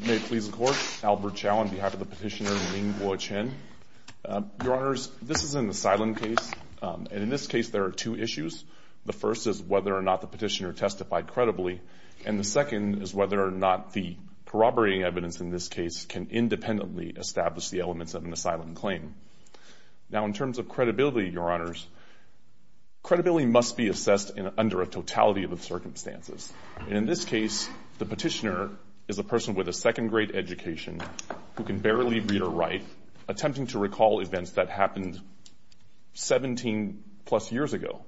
May it please the Court, Albert Chow on behalf of the petitioner Mingguo Chen. Your Honors, this is an asylum case, and in this case there are two issues. The first is whether or not the petitioner testified credibly, and the second is whether or not the corroborating evidence in this case can independently establish the elements of an asylum claim. Now in terms of credibility, Your Honors, credibility must be assessed under a totality of the circumstances. And in this case, the petitioner is a person with a second grade education who can barely read or write, attempting to recall events that happened 17 plus years ago.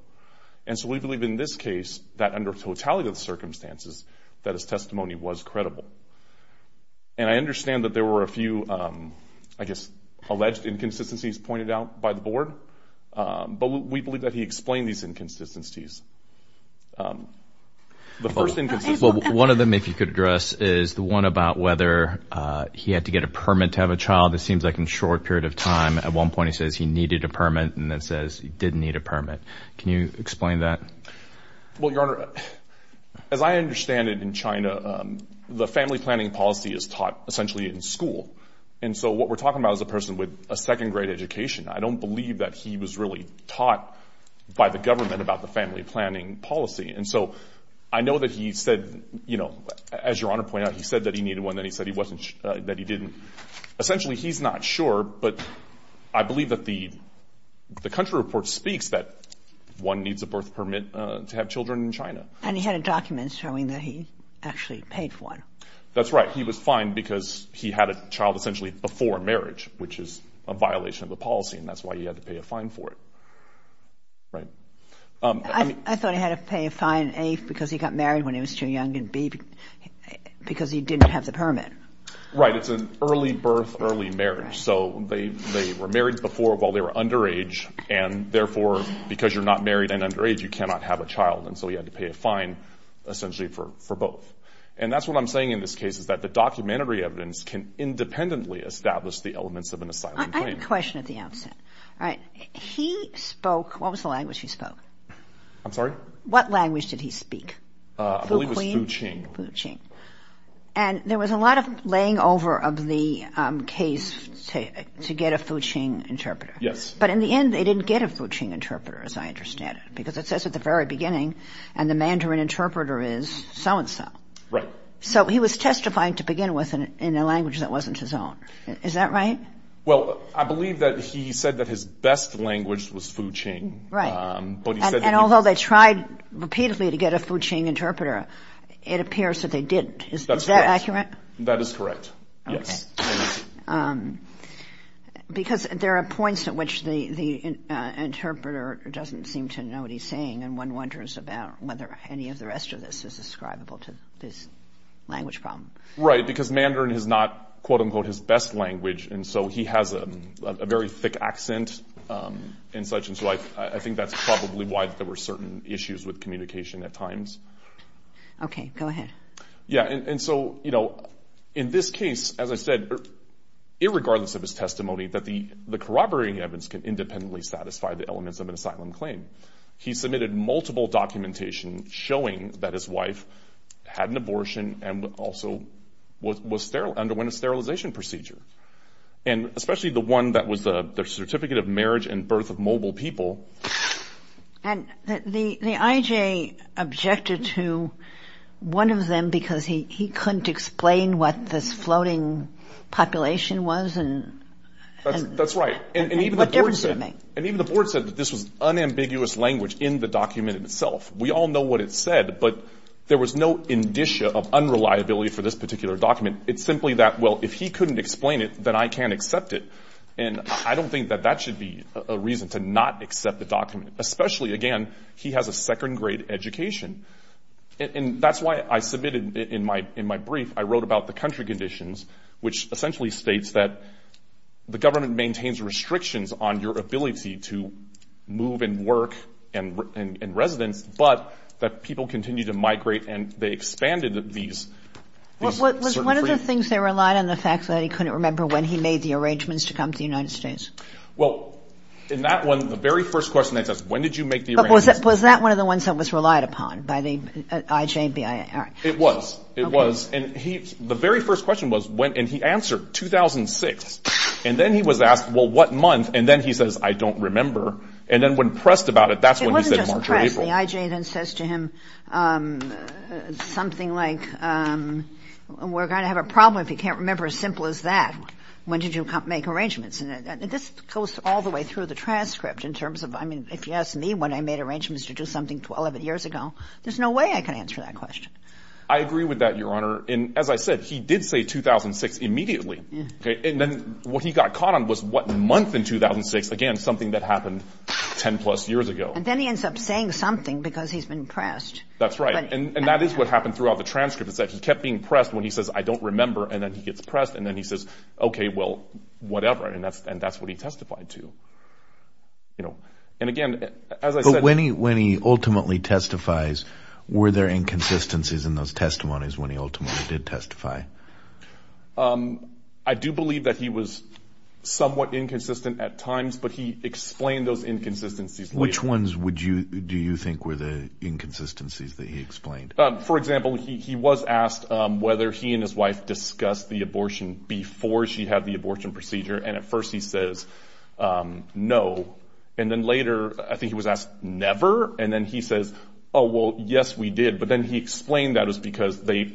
And so we believe in this case that under totality of the circumstances that his testimony was credible. And I understand that there were a few, I guess, alleged inconsistencies pointed out by the Board, but we believe that he explained these inconsistencies. The first inconsistency... Well, one of them, if you could address, is the one about whether he had to get a permit to have a child. It seems like in a short period of time, at one point he says he needed a permit and then says he didn't need a permit. Can you explain that? Well, Your Honor, as I understand it in China, the family planning policy is taught essentially in school. And so what we're talking about is a person with a second grade education. I don't believe that he was really taught by the government about the family planning policy. And so I know that he said, you know, as Your Honor pointed out, he said that he needed one, then he said that he didn't. Essentially he's not sure, but I believe that the country report speaks that one needs a birth permit to have children in China. And he had a document showing that he actually paid for it. That's right. He was fined because he had a child essentially before marriage, which is a violation of the policy. And that's why he had to pay a fine for it. Right? I thought he had to pay a fine, A, because he got married when he was too young and B, because he didn't have the permit. Right. It's an early birth, early marriage. So they were married before while they were underage, and therefore because you're not married and underage, you cannot have a child. And so he had to pay a fine essentially for both. And that's what I'm saying in this case is that the documentary evidence can independently establish the elements of an asylum claim. I have a question at the outset. All right. He spoke, what was the language he spoke? I'm sorry? What language did he speak? I believe it was Fuching. Fuching. And there was a lot of laying over of the case to get a Fuching interpreter. Yes. But in the end, they didn't get a Fuching interpreter as I understand it, because it says at the very beginning, and the Mandarin interpreter is so and so. Right. So he was testifying to begin with in a language that wasn't his own. Is that right? Well, I believe that he said that his best language was Fuching. Right. But he said that he... And although they tried repeatedly to get a Fuching interpreter, it appears that they didn't. Is that accurate? That's correct. That is correct. Yes. Okay. Because there are points at which the interpreter doesn't seem to know what he's saying, and one wonders about whether any of the rest of this is ascribable to this language problem. Right. Right. Because Mandarin is not, quote-unquote, his best language, and so he has a very thick accent and such, and so I think that's probably why there were certain issues with communication at times. Okay. Go ahead. Yes. And so, you know, in this case, as I said, irregardless of his testimony, that the corroborating evidence can independently satisfy the elements of an asylum claim. He submitted multiple documentation showing that his wife had an abortion and also underwent a sterilization procedure, and especially the one that was the certificate of marriage and birth of mobile people. And the IJ objected to one of them because he couldn't explain what this floating population was and... And even the board said... What difference did it make? I mean, there was no ambiguous language in the document itself. We all know what it said, but there was no indicia of unreliability for this particular document. It's simply that, well, if he couldn't explain it, then I can't accept it. And I don't think that that should be a reason to not accept the document, especially, again, he has a second-grade education. And that's why I submitted in my brief, I wrote about the country conditions, which essentially states that the government maintains restrictions on your ability to move and work and residence, but that people continue to migrate and they expanded these... Was one of the things they relied on the fact that he couldn't remember when he made the arrangements to come to the United States? Well, in that one, the very first question that says, when did you make the arrangements? Was that one of the ones that was relied upon by the IJBIA? It was. It was. And the very first question was when, and he answered 2006. And then he was asked, well, what month? And then he says, I don't remember. And then when pressed about it, that's when he said March or April. It wasn't just pressed. The IJ then says to him something like, we're going to have a problem if you can't remember as simple as that. When did you make arrangements? And this goes all the way through the transcript in terms of, I mean, if you ask me when I made arrangements to do something 12 years ago, there's no way I can answer that question. I agree with that, Your Honor. And as I said, he did say 2006 immediately. And then what he got caught on was what month in 2006, again, something that happened 10 plus years ago. And then he ends up saying something because he's been pressed. That's right. And that is what happened throughout the transcript. It's that he kept being pressed when he says, I don't remember. And then he gets pressed. And then he says, OK, well, whatever. And that's what he testified to. And again, as I said- When he ultimately testifies, were there inconsistencies in those testimonies when he ultimately did I do believe that he was somewhat inconsistent at times, but he explained those inconsistencies later. Which ones would you do you think were the inconsistencies that he explained? For example, he was asked whether he and his wife discussed the abortion before she had the abortion procedure. And at first he says no. And then later, I think he was asked never. And then he says, oh, well, yes, we did. But then he explained that it was because they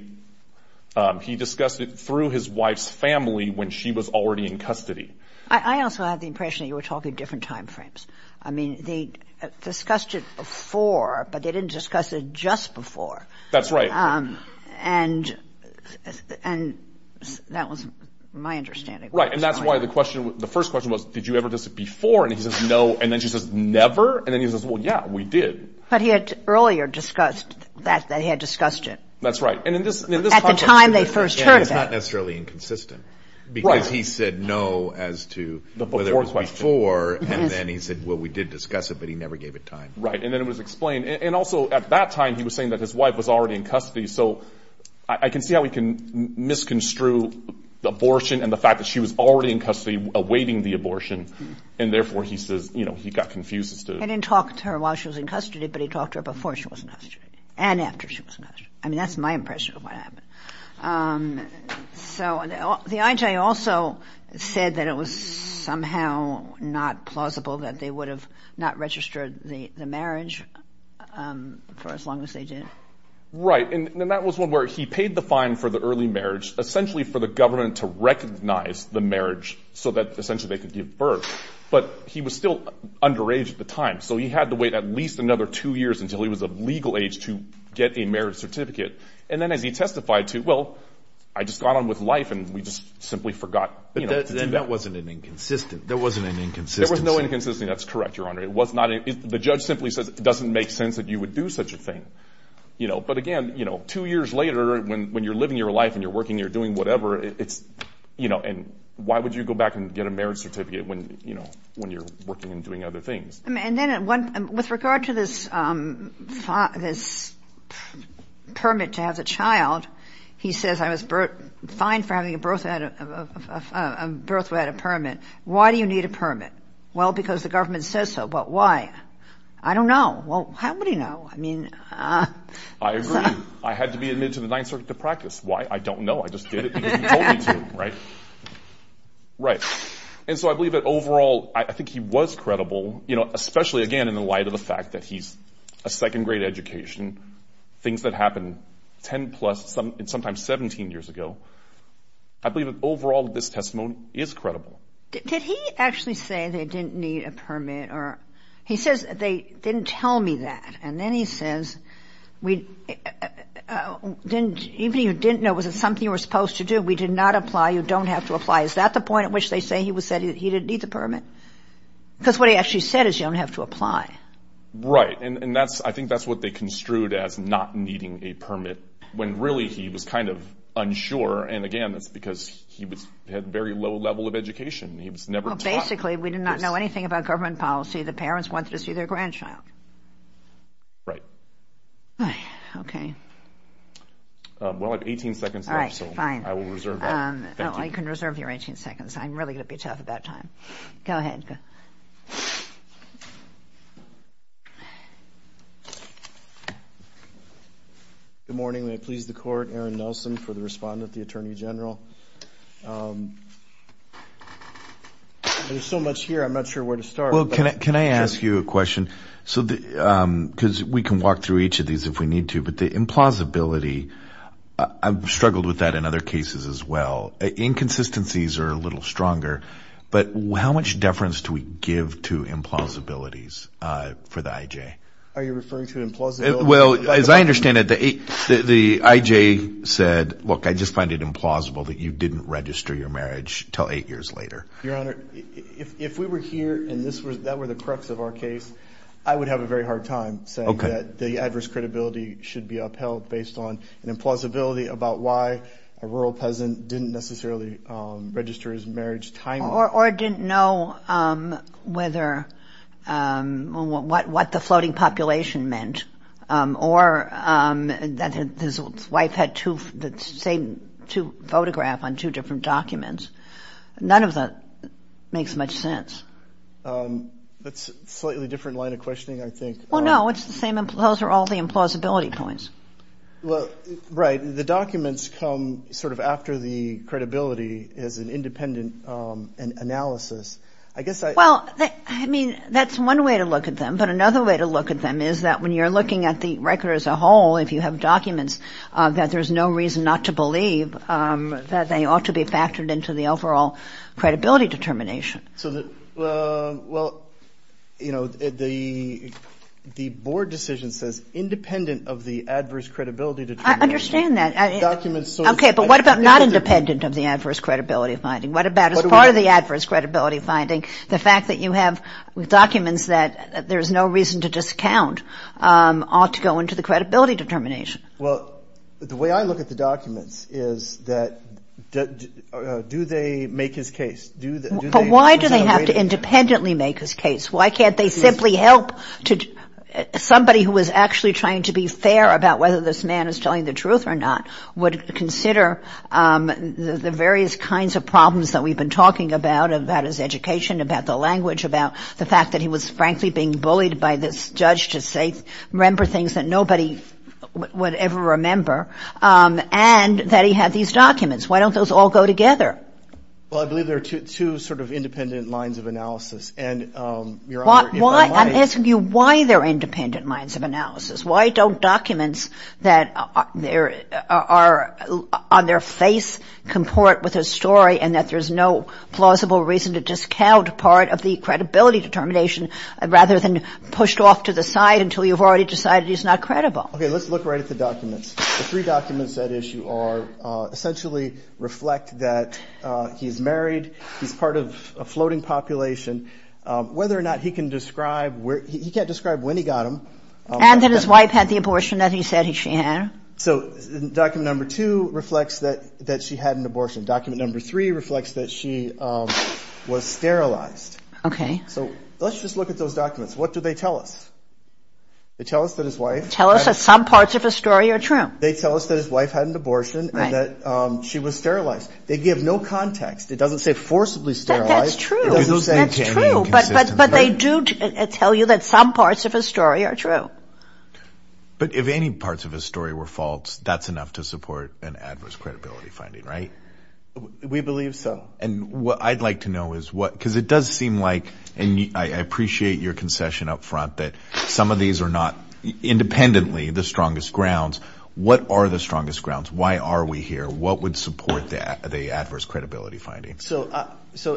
he discussed it through his wife's family when she was already in custody. I also had the impression you were talking different time frames. I mean, they discussed it before, but they didn't discuss it just before. That's right. And and that was my understanding. Right. And that's why the question the first question was, did you ever this before? And he says no. And then she says never. And then he says, well, yeah, we did. But he had earlier discussed that they had discussed it. That's right. And in this at the time they first heard, it's not necessarily inconsistent because he said no as to whether it was before and then he said, well, we did discuss it, but he never gave it time. Right. And then it was explained. And also at that time, he was saying that his wife was already in custody. So I can see how we can misconstrue the abortion and the fact that she was already in custody awaiting the abortion. And therefore, he says, you know, he got confused. He didn't talk to her while she was in custody, but he talked to her before she was in custody and after she was in custody. I mean, that's my impression of what happened. So the IJ also said that it was somehow not plausible that they would have not registered the marriage for as long as they did. Right. And then that was one where he paid the fine for the early marriage, essentially for the government to recognize the marriage so that essentially they could give birth. But he was still underage at the time, so he had to wait at least another two years until he was of legal age to get a marriage certificate. And then as he testified to, well, I just got on with life and we just simply forgot. That wasn't an inconsistent. There wasn't an inconsistency. There was no inconsistency. That's correct, Your Honor. It was not. The judge simply says it doesn't make sense that you would do such a thing, you know. But again, you know, two years later, when when you're living your life and you're working, you're doing whatever it's, you know, and why would you go back and get a marriage certificate when, you know, when you're working and doing other things? And then with regard to this, this permit to have the child, he says, I was fine for having a birth without a permit. Why do you need a permit? Well, because the government says so. But why? I don't know. Well, how would he know? I mean, I agree. I had to be admitted to the Ninth Circuit to practice. Why? I don't know. I just did it because you told me to. Right. Right. And so I believe that overall, I think he was credible, you know, especially, again, in the light of the fact that he's a second grade education, things that happened 10 plus some and sometimes 17 years ago. I believe that overall, this testimony is credible. Did he actually say they didn't need a permit or he says they didn't tell me that? And then he says, we didn't even you didn't know, was it something you were supposed to do? We did not apply. You don't have to apply. Is that the point at which they say he was said he didn't need the permit? Because what he actually said is you don't have to apply. Right. And that's I think that's what they construed as not needing a permit when really he was kind of unsure. And again, that's because he had very low level of education. He was never taught. Basically, we did not know anything about government policy. The parents wanted to see their grandchild. Right. Right. OK. Well, I have 18 seconds left, so I will reserve that. I can reserve your 18 seconds. I'm really going to be tough about time. Go ahead. Good morning. May it please the court, Aaron Nelson, for the respondent, the attorney general. There's so much here, I'm not sure where to start. Can I ask you a question? So because we can walk through each of these if we need to, but the implausibility, I've seen inconsistencies are a little stronger. But how much deference do we give to implausibilities for the IJ? Are you referring to implausibility? Well, as I understand it, the IJ said, look, I just find it implausible that you didn't register your marriage until eight years later. Your Honor, if we were here and that were the crux of our case, I would have a very hard time saying that the adverse credibility should be upheld based on an implausibility about why a rural peasant didn't necessarily register his marriage timely. Or didn't know what the floating population meant. Or that his wife had the same photograph on two different documents. None of that makes much sense. That's a slightly different line of questioning, I think. Well, no, those are all the implausibility points. Right. The documents come sort of after the credibility as an independent analysis. I guess I... Well, I mean, that's one way to look at them. But another way to look at them is that when you're looking at the record as a whole, if you have documents that there's no reason not to believe that they ought to be factored into the overall credibility determination. So the, well, you know, the board decision says independent of the adverse credibility determination. I understand that. Okay, but what about not independent of the adverse credibility finding? What about as part of the adverse credibility finding, the fact that you have documents that there's no reason to discount ought to go into the credibility determination? Well, the way I look at the documents is that do they make his case? But why do they have to independently make his case? Why can't they simply help somebody who is actually trying to be fair about whether this man is telling the truth or not, would consider the various kinds of problems that we've been talking about, about his education, about the language, about the fact that he was frankly being bullied by this judge to say, remember things that nobody would ever remember. And that he had these documents. Why don't those all go together? Well, I believe there are two sort of independent lines of analysis. And Your Honor, if I might... I'm asking you why there are independent lines of analysis. Why don't documents that are on their face comport with a story and that there's no plausible reason to discount part of the credibility determination rather than pushed off to the side until you've already decided he's not credible? Okay, let's look right at the documents. The three documents at issue are essentially reflect that he's married, he's part of a He can't describe when he got him. And that his wife had the abortion that he said she had. So document number two reflects that she had an abortion. Document number three reflects that she was sterilized. So let's just look at those documents. What do they tell us? They tell us that his wife... Tell us that some parts of the story are true. They tell us that his wife had an abortion and that she was sterilized. They give no context. It doesn't say forcibly sterilized. That's true. But they do tell you that some parts of his story are true. But if any parts of his story were false, that's enough to support an adverse credibility finding, right? We believe so. And what I'd like to know is what, because it does seem like, and I appreciate your concession up front that some of these are not independently the strongest grounds. What are the strongest grounds? Why are we here? What would support the adverse credibility finding? So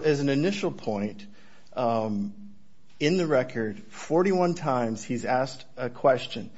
as an initial point, in the record, 41 times he's asked a question.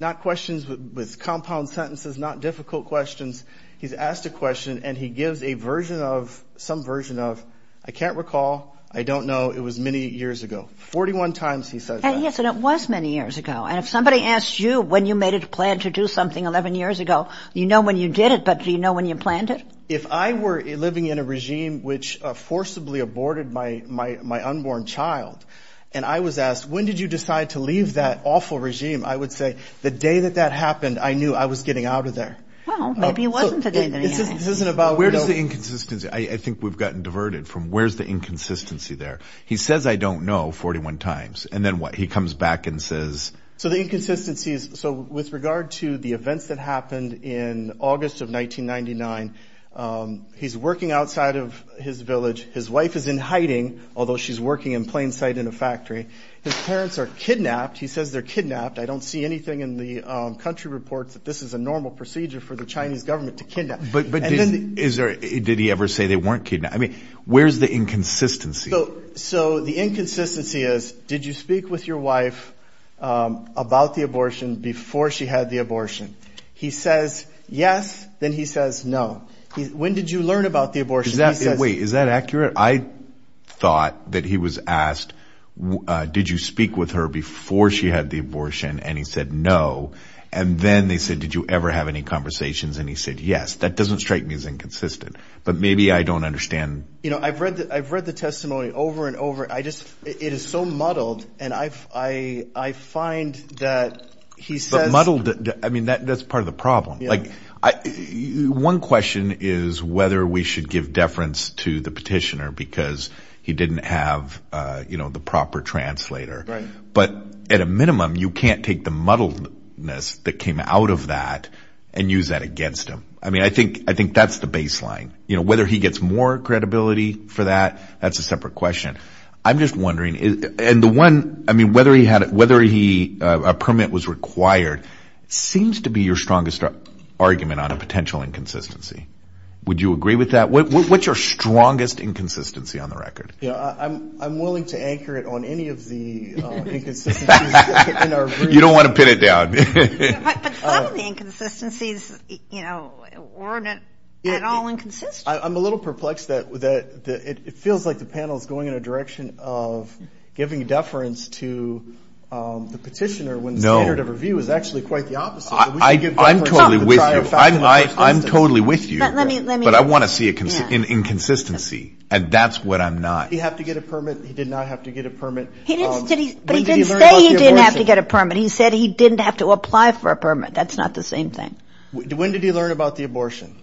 Not questions with compound sentences, not difficult questions. He's asked a question and he gives some version of, I can't recall, I don't know, it was many years ago. 41 times he says that. And yes, and it was many years ago. And if somebody asks you when you made a plan to do something 11 years ago, you know when you did it, but do you know when you planned it? If I were living in a regime which forcibly aborted my unborn child and I was asked, when did you decide to leave that awful regime? I would say the day that that happened, I knew I was getting out of there. Well, maybe it wasn't the day that he asked. Where does the inconsistency, I think we've gotten diverted from, where's the inconsistency there? He says, I don't know, 41 times. And then what? He comes back and says. So the inconsistency is, so with regard to the events that happened in August of 1999, he's working outside of his village. His wife is in hiding, although she's working in plain sight in a factory, his parents are kidnapped. He says they're kidnapped. I don't see anything in the country reports that this is a normal procedure for the Chinese government to kidnap. But, but is there, did he ever say they weren't kidnapped? I mean, where's the inconsistency? So the inconsistency is, did you speak with your wife, um, about the abortion before she had the abortion? He says, yes. Then he says, no. When did you learn about the abortion? Wait, is that accurate? I thought that he was asked, uh, did you speak with her before she had the abortion? And he said, no. And then they said, did you ever have any conversations? And he said, yes. That doesn't strike me as inconsistent, but maybe I don't understand. You know, I've read the, I've read the testimony over and over. I just, it is so muddled and I've, I, I find that he says, I mean, that, that's part of the problem. Like I, one question is whether we should give deference to the petitioner because he didn't have, uh, you know, the proper translator, but at a minimum you can't take the muddled ness that came out of that and use that against him. I mean, I think, I think that's the baseline. Whether he gets more credibility for that, that's a separate question. I'm just wondering, and the one, I mean, whether he had, whether he, uh, a permit was required, seems to be your strongest argument on a potential inconsistency. Would you agree with that? What's your strongest inconsistency on the record? Yeah, I'm, I'm willing to anchor it on any of the inconsistencies in our brief. You don't want to pin it down. But some of the inconsistencies, you know, weren't at all inconsistent. I'm a little perplexed that, that it feels like the panel is going in a direction of giving deference to, um, the petitioner when the standard of review is actually quite the opposite. I'm totally with you. I'm totally with you, but I want to see an inconsistency and that's what I'm not. He had to get a permit. He did not have to get a permit. But he didn't say he didn't have to get a permit. He said he didn't have to apply for a permit. That's not the same thing. When did he learn about the abortion?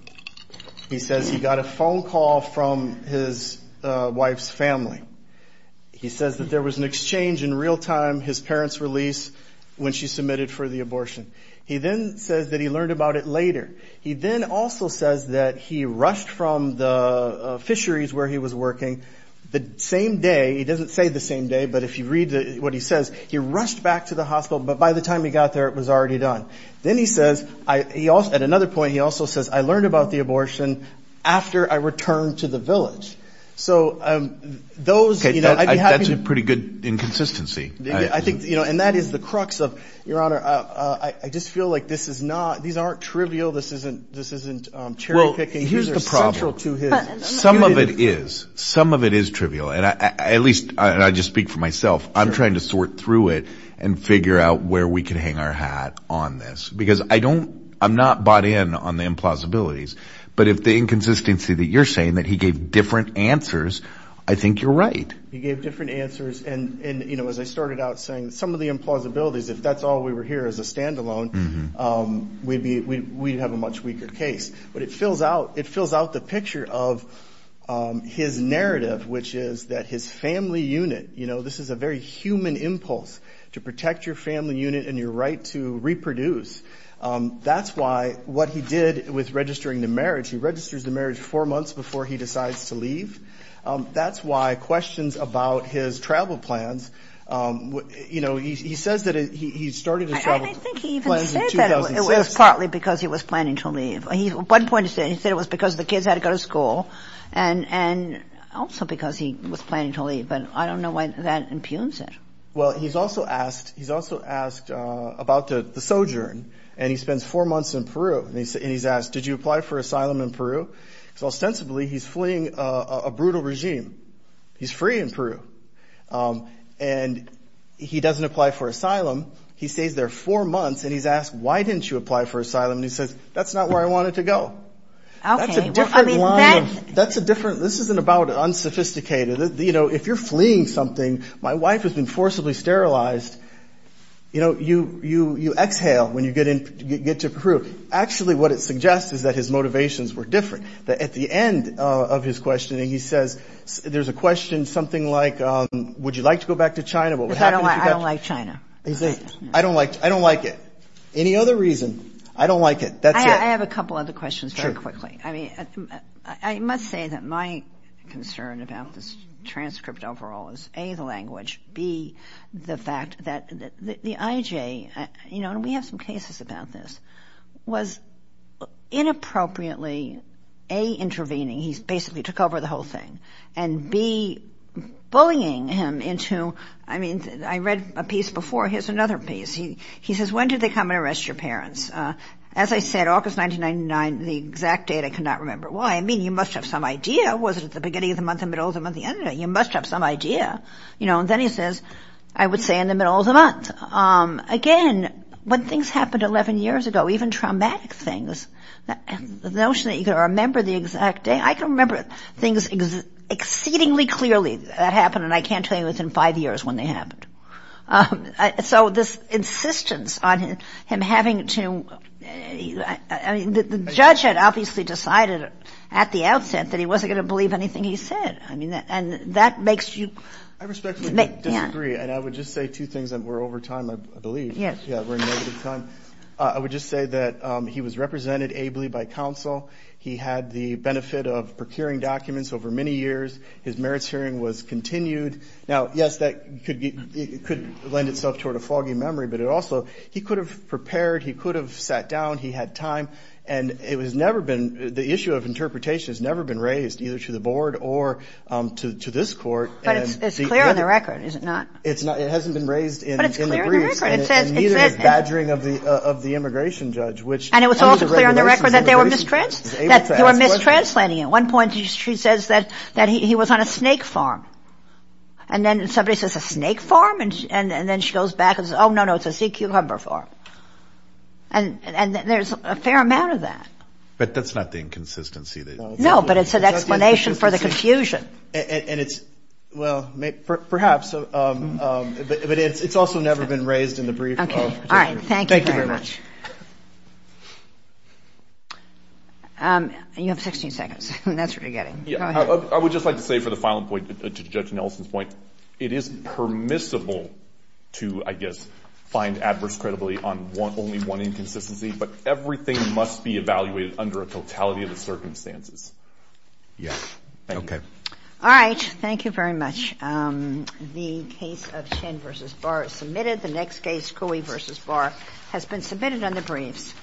He says he got a phone call from his wife's family. He says that there was an exchange in real time, his parents release, when she submitted for the abortion. He then says that he learned about it later. He then also says that he rushed from the fisheries where he was working the same day. He doesn't say the same day, but if you read what he says, he rushed back to the hospital but by the time he got there, it was already done. Then he says, he also at another point, he also says, I learned about the abortion after I returned to the village. So, um, those, you know, that's a pretty good inconsistency. I think, you know, and that is the crux of your honor. I just feel like this is not, these aren't trivial. This isn't, this isn't, um, cherry picking. Here's the problem to his. Some of it is, some of it is trivial. And I, at least I just speak for myself. I'm trying to sort through it and figure out where we can hang our hat on this because I don't, I'm not bought in on the implausibilities, but if the inconsistency that you're saying that he gave different answers, I think you're right. He gave different answers. And, and, you know, as I started out saying some of the implausibilities, if that's all we were here as a standalone, um, we'd be, we'd have a much weaker case, but it fills out, it fills out the picture of, um, his narrative, which is that his family unit, you know, this is a very human impulse to protect your family unit and your right to reproduce. Um, that's why what he did with registering the marriage, he registers the marriage four months before he decides to leave. Um, that's why questions about his travel plans, um, you know, he, he says that he, he started his travel plans in 2006. It was partly because he was planning to leave. He, at one point he said, he said it was because the kids had to go to school and, and also because he was planning to leave. But I don't know why that impugns it. Well, he's also asked, he's also asked, uh, about the sojourn and he spends four months in Peru and he's, and he's asked, did you apply for asylum in Peru? So ostensibly he's fleeing a brutal regime. He's free in Peru. Um, and he doesn't apply for asylum. He stays there four months and he's asked, why didn't you apply for asylum? And he says, that's not where I wanted to go. That's a different line of, that's a different, this isn't about unsophisticated. You know, if you're fleeing something, my wife has been forcibly sterilized. You know, you, you, you exhale when you get in, get to Peru. Actually, what it suggests is that his motivations were different. That at the end of his questioning, he says, there's a question, something like, um, would you like to go back to China? What would happen if you got to? I don't like China. He said, I don't like, I don't like it. Any other reason? I don't like it. That's it. I have a couple other questions very quickly. I mean, I must say that my concern about this transcript overall is A, the language B, the fact that the IJ, you know, and we have some cases about this, was inappropriately, A, intervening. He's basically took over the whole thing. And B, bullying him into, I mean, I read a piece before. Here's another piece. He says, when did they come and arrest your parents? As I said, August 1999, the exact date, I cannot remember why. I mean, you must have some idea. Was it at the beginning of the month, the middle of the month, the end of the month? You must have some idea. You know, and then he says, I would say in the middle of the month. Again, when things happened 11 years ago, even traumatic things, the notion that you can remember the exact date. I can remember things exceedingly clearly that happened, and I can't tell you within five years when they happened. So this insistence on him having to, I mean, the judge had obviously decided at the outset that he wasn't going to believe anything he said. I mean, and that makes you. I respectfully disagree, and I would just say two things that were over time, I believe. Yes. Yeah, we're in negative time. I would just say that he was represented ably by counsel. He had the benefit of procuring documents over many years. His merits hearing was continued. Now, yes, that could lend itself toward a foggy memory, but it also, he could have prepared. He could have sat down. He had time, and it was never been, the issue of interpretation has never been raised either to the board or to this court. But it's clear on the record, is it not? It's not. It hasn't been raised in the briefs, and neither has badgering of the immigration judge, which And it was also clear on the record that they were mistranslating it. At one point, she says that he was on a snake farm. And then somebody says, a snake farm? And then she goes back and says, oh, no, no, it's a sea cucumber farm. And there's a fair amount of that. But that's not the inconsistency. No, but it's an explanation for the confusion. And it's, well, perhaps. But it's also never been raised in the brief. OK. All right. Thank you very much. You have 16 seconds, and that's what you're getting. Go ahead. I would just like to say for the final point, to Judge Nelson's point, it is permissible to, I guess, find adverse credibility on only one inconsistency. But everything must be evaluated under a totality of the circumstances. Yes. OK. All right. Thank you very much. The case of Chin v. Barr is submitted. The next case, Coey v. Barr, has been submitted on the briefs.